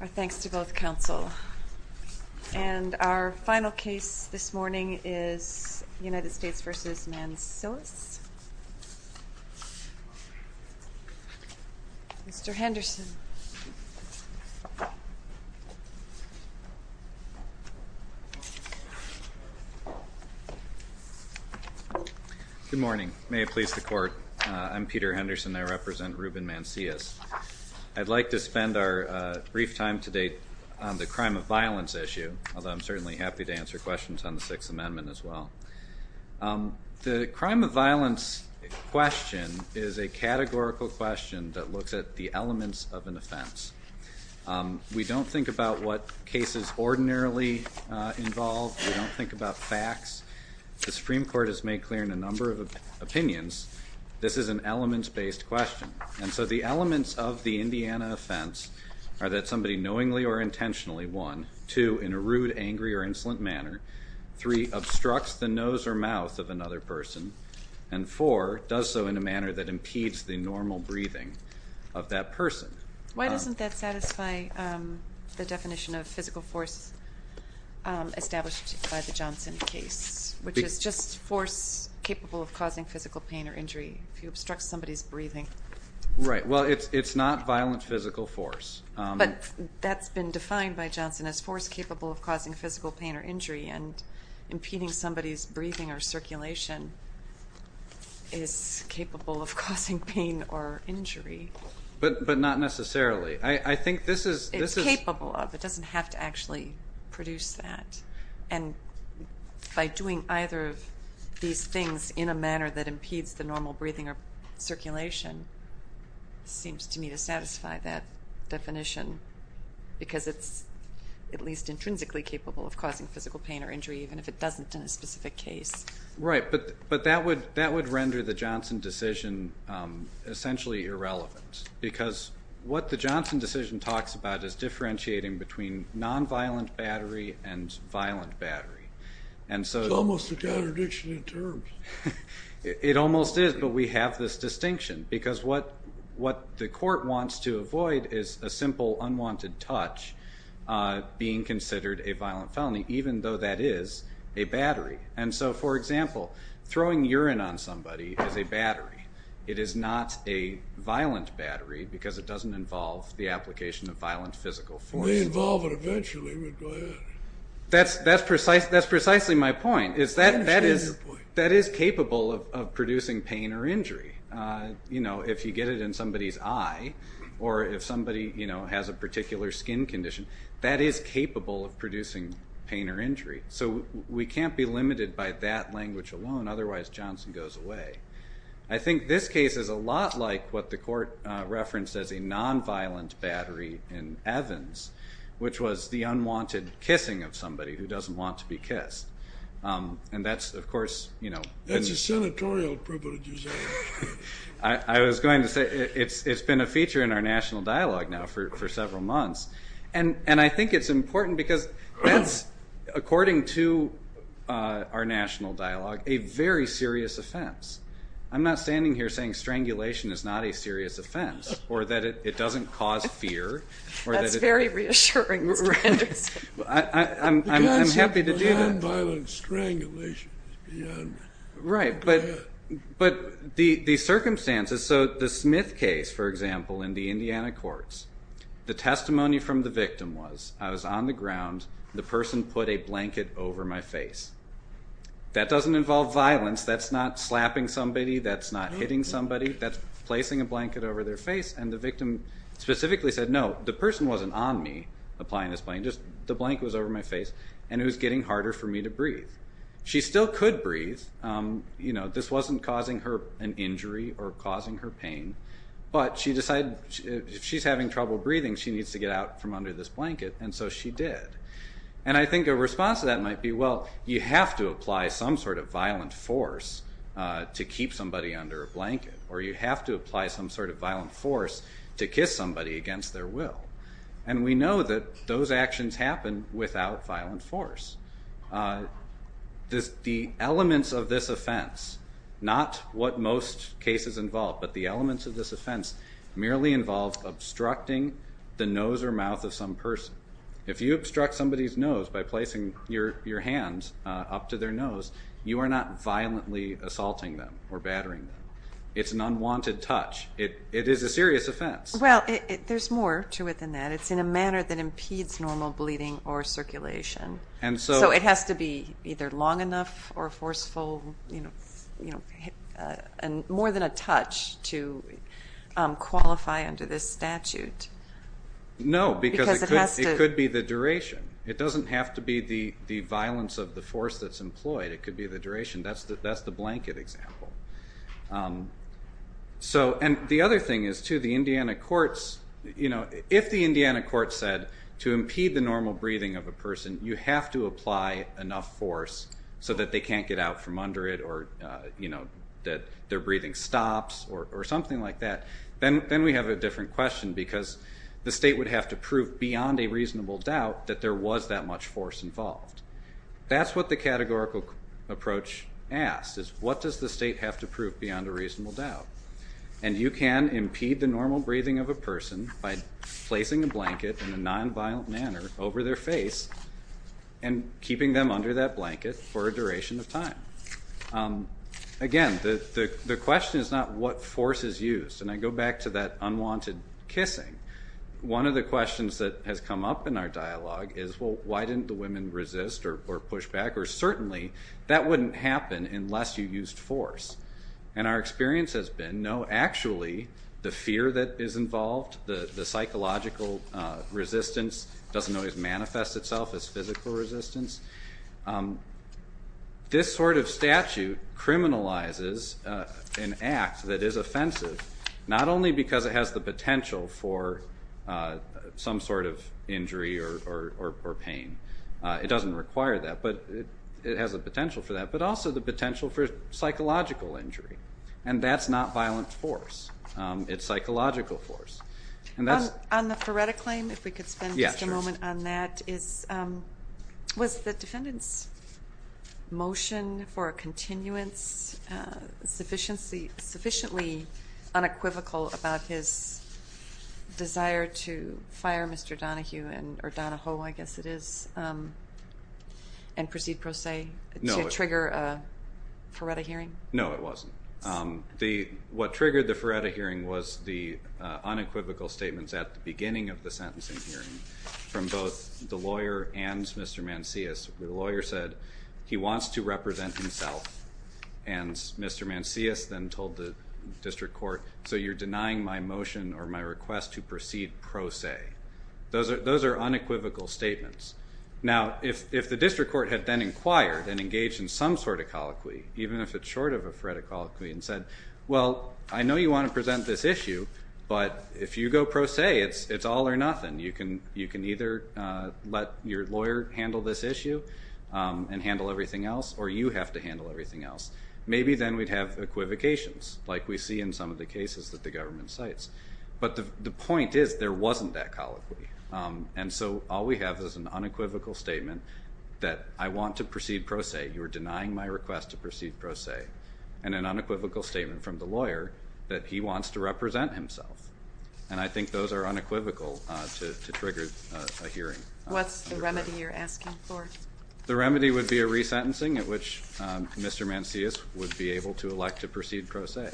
Our thanks to both counsel. And our final case this morning is United States v. Mancillas. Mr. Henderson. Good morning. May it please the court. I'm Peter Henderson. I represent Ruben Mancillas. I'd like to spend our brief time today on the crime of violence issue, although I'm certainly happy to answer questions on the Sixth Amendment as well. The crime of violence question is a categorical question that looks at the elements of an offense. We don't think about what cases ordinarily involve. We don't think about facts. The Supreme Court has made clear in a number of opinions this is an elements-based question. And so the elements of the Indiana offense are that somebody knowingly or intentionally, one, two, in a rude, angry, or insolent manner, three, obstructs the nose or mouth of another person, and four, does so in a manner that impedes the normal breathing of that person. Why doesn't that satisfy the definition of physical force established by the Johnson case, which is just force capable of causing physical pain or injury? If you obstruct somebody's breathing. Right. Well, it's not violent physical force. But that's been defined by Johnson as force capable of causing physical pain or injury, and impeding somebody's breathing or circulation is capable of causing pain or injury. But not necessarily. It's capable of. It doesn't have to actually produce that. And by doing either of these things in a manner that impedes the normal breathing or circulation seems to me to satisfy that definition, because it's at least intrinsically capable of causing physical pain or injury, even if it doesn't in a specific case. Right. But that would render the Johnson decision essentially irrelevant, because what the Johnson decision talks about is differentiating between nonviolent battery and violent battery. It's almost a contradiction in terms. It almost is, but we have this distinction, because what the court wants to avoid is a simple unwanted touch being considered a violent felony, even though that is a battery. And so, for example, throwing urine on somebody is a battery. It is not a violent battery, because it doesn't involve the application of violent physical force. We involve it eventually, but go ahead. That's precisely my point. I understand your point. That is capable of producing pain or injury. If you get it in somebody's eye or if somebody has a particular skin condition, that is capable of producing pain or injury. So we can't be limited by that language alone, otherwise Johnson goes away. I think this case is a lot like what the court referenced as a nonviolent battery in Evans, which was the unwanted kissing of somebody who doesn't want to be kissed. And that's, of course, you know. That's a senatorial privilege, you say. I was going to say it's been a feature in our national dialogue now for several months. And I think it's important because that's, according to our national dialogue, a very serious offense. I'm not standing here saying strangulation is not a serious offense or that it doesn't cause fear. That's very reassuring, Mr. Anderson. I'm happy to do that. Nonviolent strangulation is beyond. Right, but the circumstances. So the Smith case, for example, in the Indiana courts, the testimony from the victim was, I was on the ground, the person put a blanket over my face. That doesn't involve violence. That's not slapping somebody. That's not hitting somebody. That's placing a blanket over their face. And the victim specifically said, no, the person wasn't on me applying this blanket. The blanket was over my face, and it was getting harder for me to breathe. She still could breathe. You know, this wasn't causing her an injury or causing her pain. But she decided if she's having trouble breathing, she needs to get out from under this blanket, and so she did. And I think a response to that might be, well, you have to apply some sort of violent force to keep somebody under a blanket, or you have to apply some sort of violent force to kiss somebody against their will. And we know that those actions happen without violent force. The elements of this offense, not what most cases involve, but the elements of this offense merely involve obstructing the nose or mouth of some person. If you obstruct somebody's nose by placing your hand up to their nose, you are not violently assaulting them or battering them. It's an unwanted touch. It is a serious offense. Well, there's more to it than that. It's in a manner that impedes normal bleeding or circulation. So it has to be either long enough or forceful, you know, more than a touch to qualify under this statute. No, because it could be the duration. It doesn't have to be the violence of the force that's employed. It could be the duration. That's the blanket example. And the other thing is, too, the Indiana courts, you know, if the Indiana court said to impede the normal breathing of a person, you have to apply enough force so that they can't get out from under it or, you know, that their breathing stops or something like that, then we have a different question because the state would have to prove beyond a reasonable doubt that there was that much force involved. That's what the categorical approach asks is, what does the state have to prove beyond a reasonable doubt? And you can impede the normal breathing of a person by placing a blanket in a nonviolent manner over their face and keeping them under that blanket for a duration of time. Again, the question is not what force is used. And I go back to that unwanted kissing. One of the questions that has come up in our dialogue is, well, why didn't the women resist or push back? Or certainly that wouldn't happen unless you used force. And our experience has been, no, actually the fear that is involved, the psychological resistance, doesn't always manifest itself as physical resistance. This sort of statute criminalizes an act that is offensive, not only because it has the potential for some sort of injury or pain. It doesn't require that, but it has the potential for that, but also the potential for psychological injury. And that's not violent force. It's psychological force. On the Faretta claim, if we could spend just a moment on that, was the defendant's motion for a continuance sufficiently unequivocal about his desire to fire Mr. Donahue or Donahoe, I guess it is, and proceed pro se to trigger a Faretta hearing? No, it wasn't. What triggered the Faretta hearing was the unequivocal statements at the beginning of the sentencing hearing from both the lawyer and Mr. Mancius. The lawyer said he wants to represent himself, and Mr. Mancius then told the district court, so you're denying my motion or my request to proceed pro se. Those are unequivocal statements. Now, if the district court had then inquired and engaged in some sort of colloquy, even if it's short of a Faretta colloquy, and said, well, I know you want to present this issue, but if you go pro se, it's all or nothing. You can either let your lawyer handle this issue and handle everything else, or you have to handle everything else, maybe then we'd have equivocations, like we see in some of the cases that the government cites. But the point is there wasn't that colloquy. And so all we have is an unequivocal statement that I want to proceed pro se, you're denying my request to proceed pro se, and an unequivocal statement from the lawyer that he wants to represent himself. And I think those are unequivocal to trigger a hearing. What's the remedy you're asking for? The remedy would be a resentencing at which Mr. Mancius would be able to elect to proceed pro se.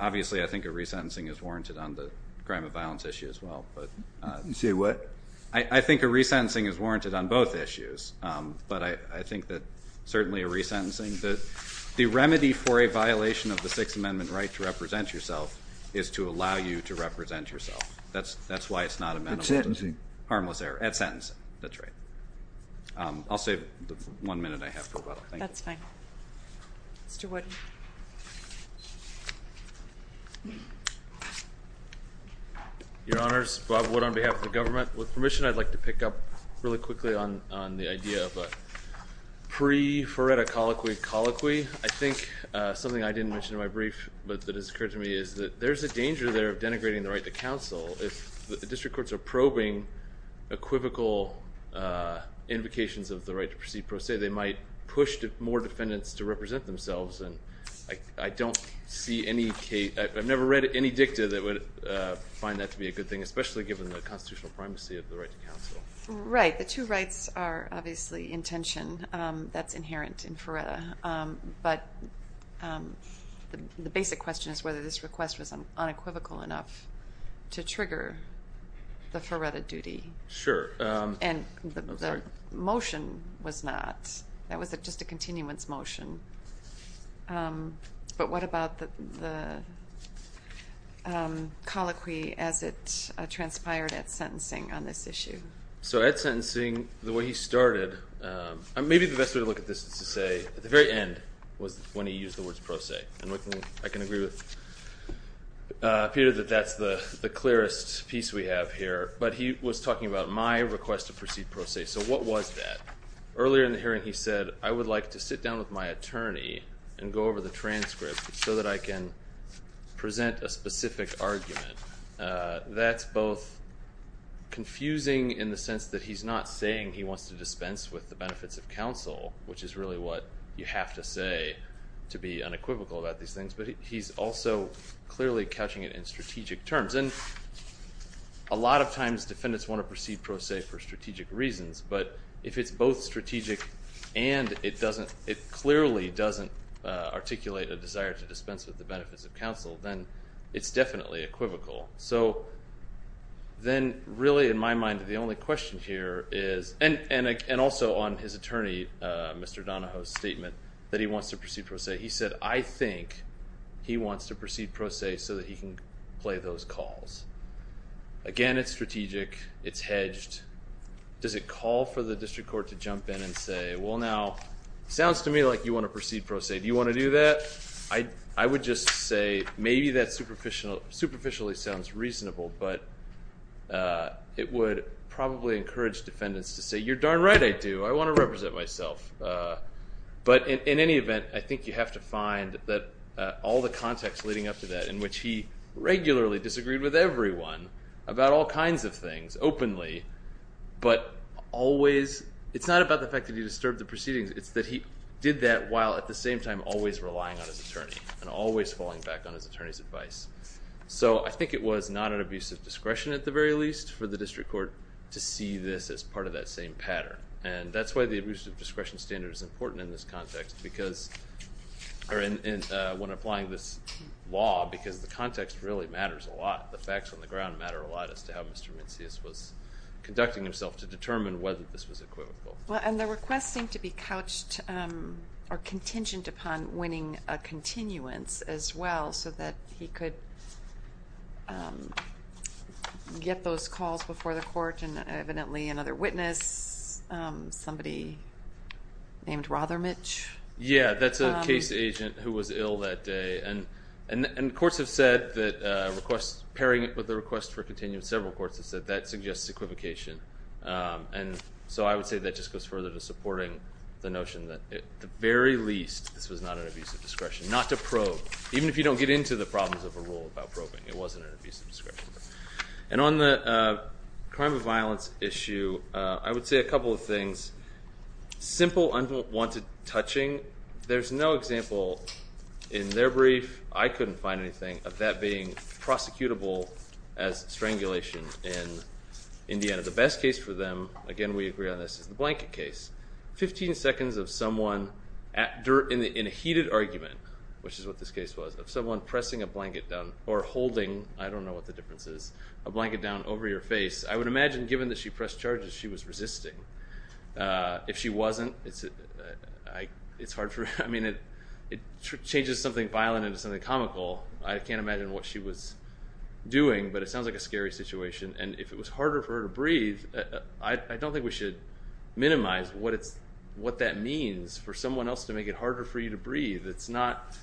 Obviously, I think a resentencing is warranted on the crime of violence issue as well. You say what? I think a resentencing is warranted on both issues. But I think that certainly a resentencing, the remedy for a violation of the Sixth Amendment right to represent yourself is to allow you to represent yourself. That's why it's not a mental illness. At sentencing? Harmless error. At sentencing. That's right. I'll save the one minute I have for whether. That's fine. Mr. Wood. Your Honors, Bob Wood on behalf of the government. With permission, I'd like to pick up really quickly on the idea of a pre-foreta colloquy colloquy. I think something I didn't mention in my brief but that has occurred to me is that there's a danger there of denigrating the right to counsel. If the district courts are probing equivocal invocations of the right to proceed pro se, they might push more defendants to represent themselves. And I don't see any case, I've never read any dicta that would find that to be a good thing, especially given the constitutional primacy of the right to counsel. Right. The two rights are obviously in tension. That's inherent in foreta. But the basic question is whether this request was unequivocal enough to trigger the foreta duty. Sure. And the motion was not. That was just a continuance motion. But what about the colloquy as it transpired at sentencing on this issue? So at sentencing, the way he started, maybe the best way to look at this is to say at the very end was when he used the words pro se. And I can agree with Peter that that's the clearest piece we have here. But he was talking about my request to proceed pro se. So what was that? Earlier in the hearing he said, I would like to sit down with my attorney and go over the transcript so that I can present a specific argument. That's both confusing in the sense that he's not saying he wants to dispense with the benefits of counsel, which is really what you have to say to be unequivocal about these things, but he's also clearly catching it in strategic terms. And a lot of times defendants want to proceed pro se for strategic reasons, but if it's both strategic and it clearly doesn't articulate a desire to dispense with the benefits of counsel, then it's definitely equivocal. So then really in my mind the only question here is, and also on his attorney, Mr. Donahoe's statement that he wants to proceed pro se, he said, I think he wants to proceed pro se so that he can play those calls. Again, it's strategic. It's hedged. Does it call for the district court to jump in and say, well, now, sounds to me like you want to proceed pro se. Do you want to do that? I would just say maybe that superficially sounds reasonable, but it would probably encourage defendants to say, you're darn right I do. I want to represent myself. But in any event, I think you have to find that all the context leading up to that, in which he regularly disagreed with everyone about all kinds of things openly, but always, it's not about the fact that he disturbed the proceedings, it's that he did that while at the same time always relying on his attorney and always falling back on his attorney's advice. So I think it was not an abuse of discretion at the very least for the district court to see this as part of that same pattern. And that's why the abuse of discretion standard is important in this context because or when applying this law because the context really matters a lot. The facts on the ground matter a lot as to how Mr. Mincius was conducting himself to determine whether this was equivocal. Well, and the request seemed to be couched or contingent upon winning a continuance as well so that he could get those calls before the court and evidently another witness, somebody named Rothermitch. Yeah, that's a case agent who was ill that day. And courts have said that pairing it with the request for a continuance, several courts have said that suggests equivocation. And so I would say that just goes further to supporting the notion that at the very least, this was not an abuse of discretion, not to probe, even if you don't get into the problems of a rule about probing. It wasn't an abuse of discretion. And on the crime of violence issue, I would say a couple of things. Simple unwanted touching, there's no example in their brief, I couldn't find anything, of that being prosecutable as strangulation in Indiana. The best case for them, again we agree on this, is the blanket case. Fifteen seconds of someone in a heated argument, which is what this case was, of someone pressing a blanket down or holding, I don't know what the difference is, a blanket down over your face, I would imagine given that she pressed charges, she was resisting. If she wasn't, it's hard for me, I mean, it changes something violent into something comical. I can't imagine what she was doing, but it sounds like a scary situation. And if it was harder for her to breathe, I don't think we should minimize what that means for someone else to make it harder for you to breathe. It's not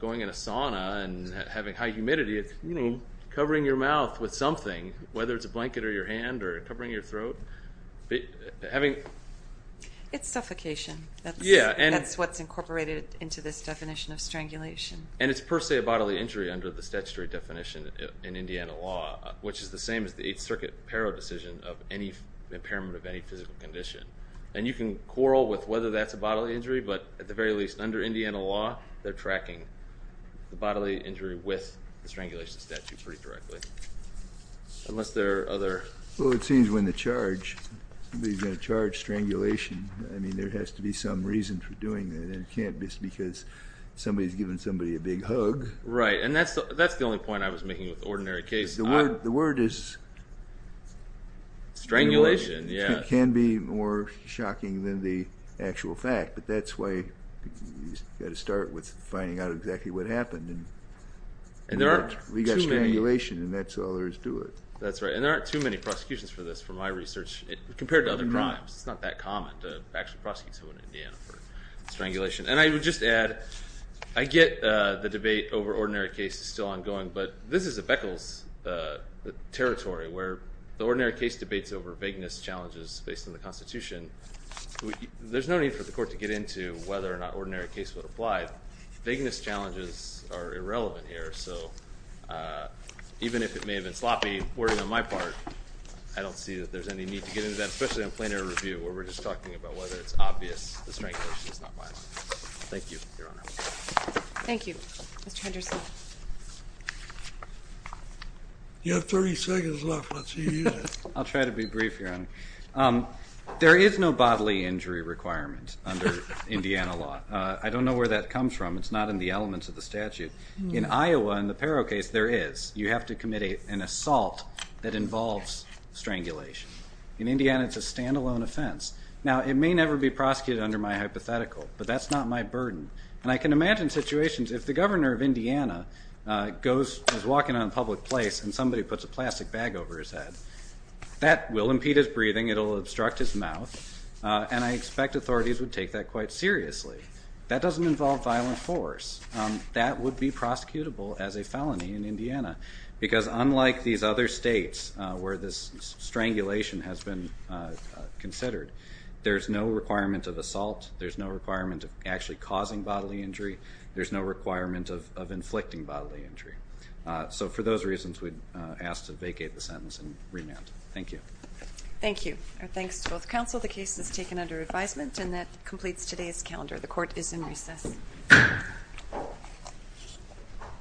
going in a sauna and having high humidity, it's covering your mouth with something, whether it's a blanket or your hand or covering your throat. It's suffocation. That's what's incorporated into this definition of strangulation. And it's per se a bodily injury under the statutory definition in Indiana law, which is the same as the Eighth Circuit Paro decision of impairment of any physical condition. And you can quarrel with whether that's a bodily injury, but at the very least, under Indiana law, they're tracking the bodily injury with the strangulation statute pretty directly. Unless there are other... Well, it seems when the charge, somebody's going to charge strangulation, I mean, there has to be some reason for doing that. And it can't just be because somebody's giving somebody a big hug. Right, and that's the only point I was making with ordinary cases. The word is... Strangulation, yeah. It can be more shocking than the actual fact. But that's why you've got to start with finding out exactly what happened. And we've got strangulation, and that's all there is to it. That's right. And there aren't too many prosecutions for this, from my research, compared to other crimes. It's not that common to actually prosecute someone in Indiana for strangulation. And I would just add, I get the debate over ordinary cases still ongoing, but this is a Beckles territory where the ordinary case debates over vagueness challenges based on the Constitution. There's no need for the court to get into whether or not ordinary case would apply. Vagueness challenges are irrelevant here. So even if it may have been sloppy, worrying on my part, I don't see that there's any need to get into that, especially in plainer review where we're just talking about whether it's obvious that strangulation is not violent. Thank you, Your Honor. Thank you. Mr. Henderson. You have 30 seconds left. Let's see you use it. I'll try to be brief, Your Honor. There is no bodily injury requirement under Indiana law. I don't know where that comes from. It's not in the elements of the statute. In Iowa, in the Pero case, there is. You have to commit an assault that involves strangulation. In Indiana, it's a stand-alone offense. Now, it may never be prosecuted under my hypothetical, but that's not my burden. And I can imagine situations, if the governor of Indiana is walking on a public place and somebody puts a plastic bag over his head, that will impede his breathing, it will obstruct his mouth, and I expect authorities would take that quite seriously. That doesn't involve violent force. That would be prosecutable as a felony in Indiana, because unlike these other states where this strangulation has been considered, there's no requirement of assault. There's no requirement of actually causing bodily injury. There's no requirement of inflicting bodily injury. So for those reasons, we'd ask to vacate the sentence and remand. Thank you. Thank you. Our thanks to both counsel. The case is taken under advisement, and that completes today's calendar. The court is in recess.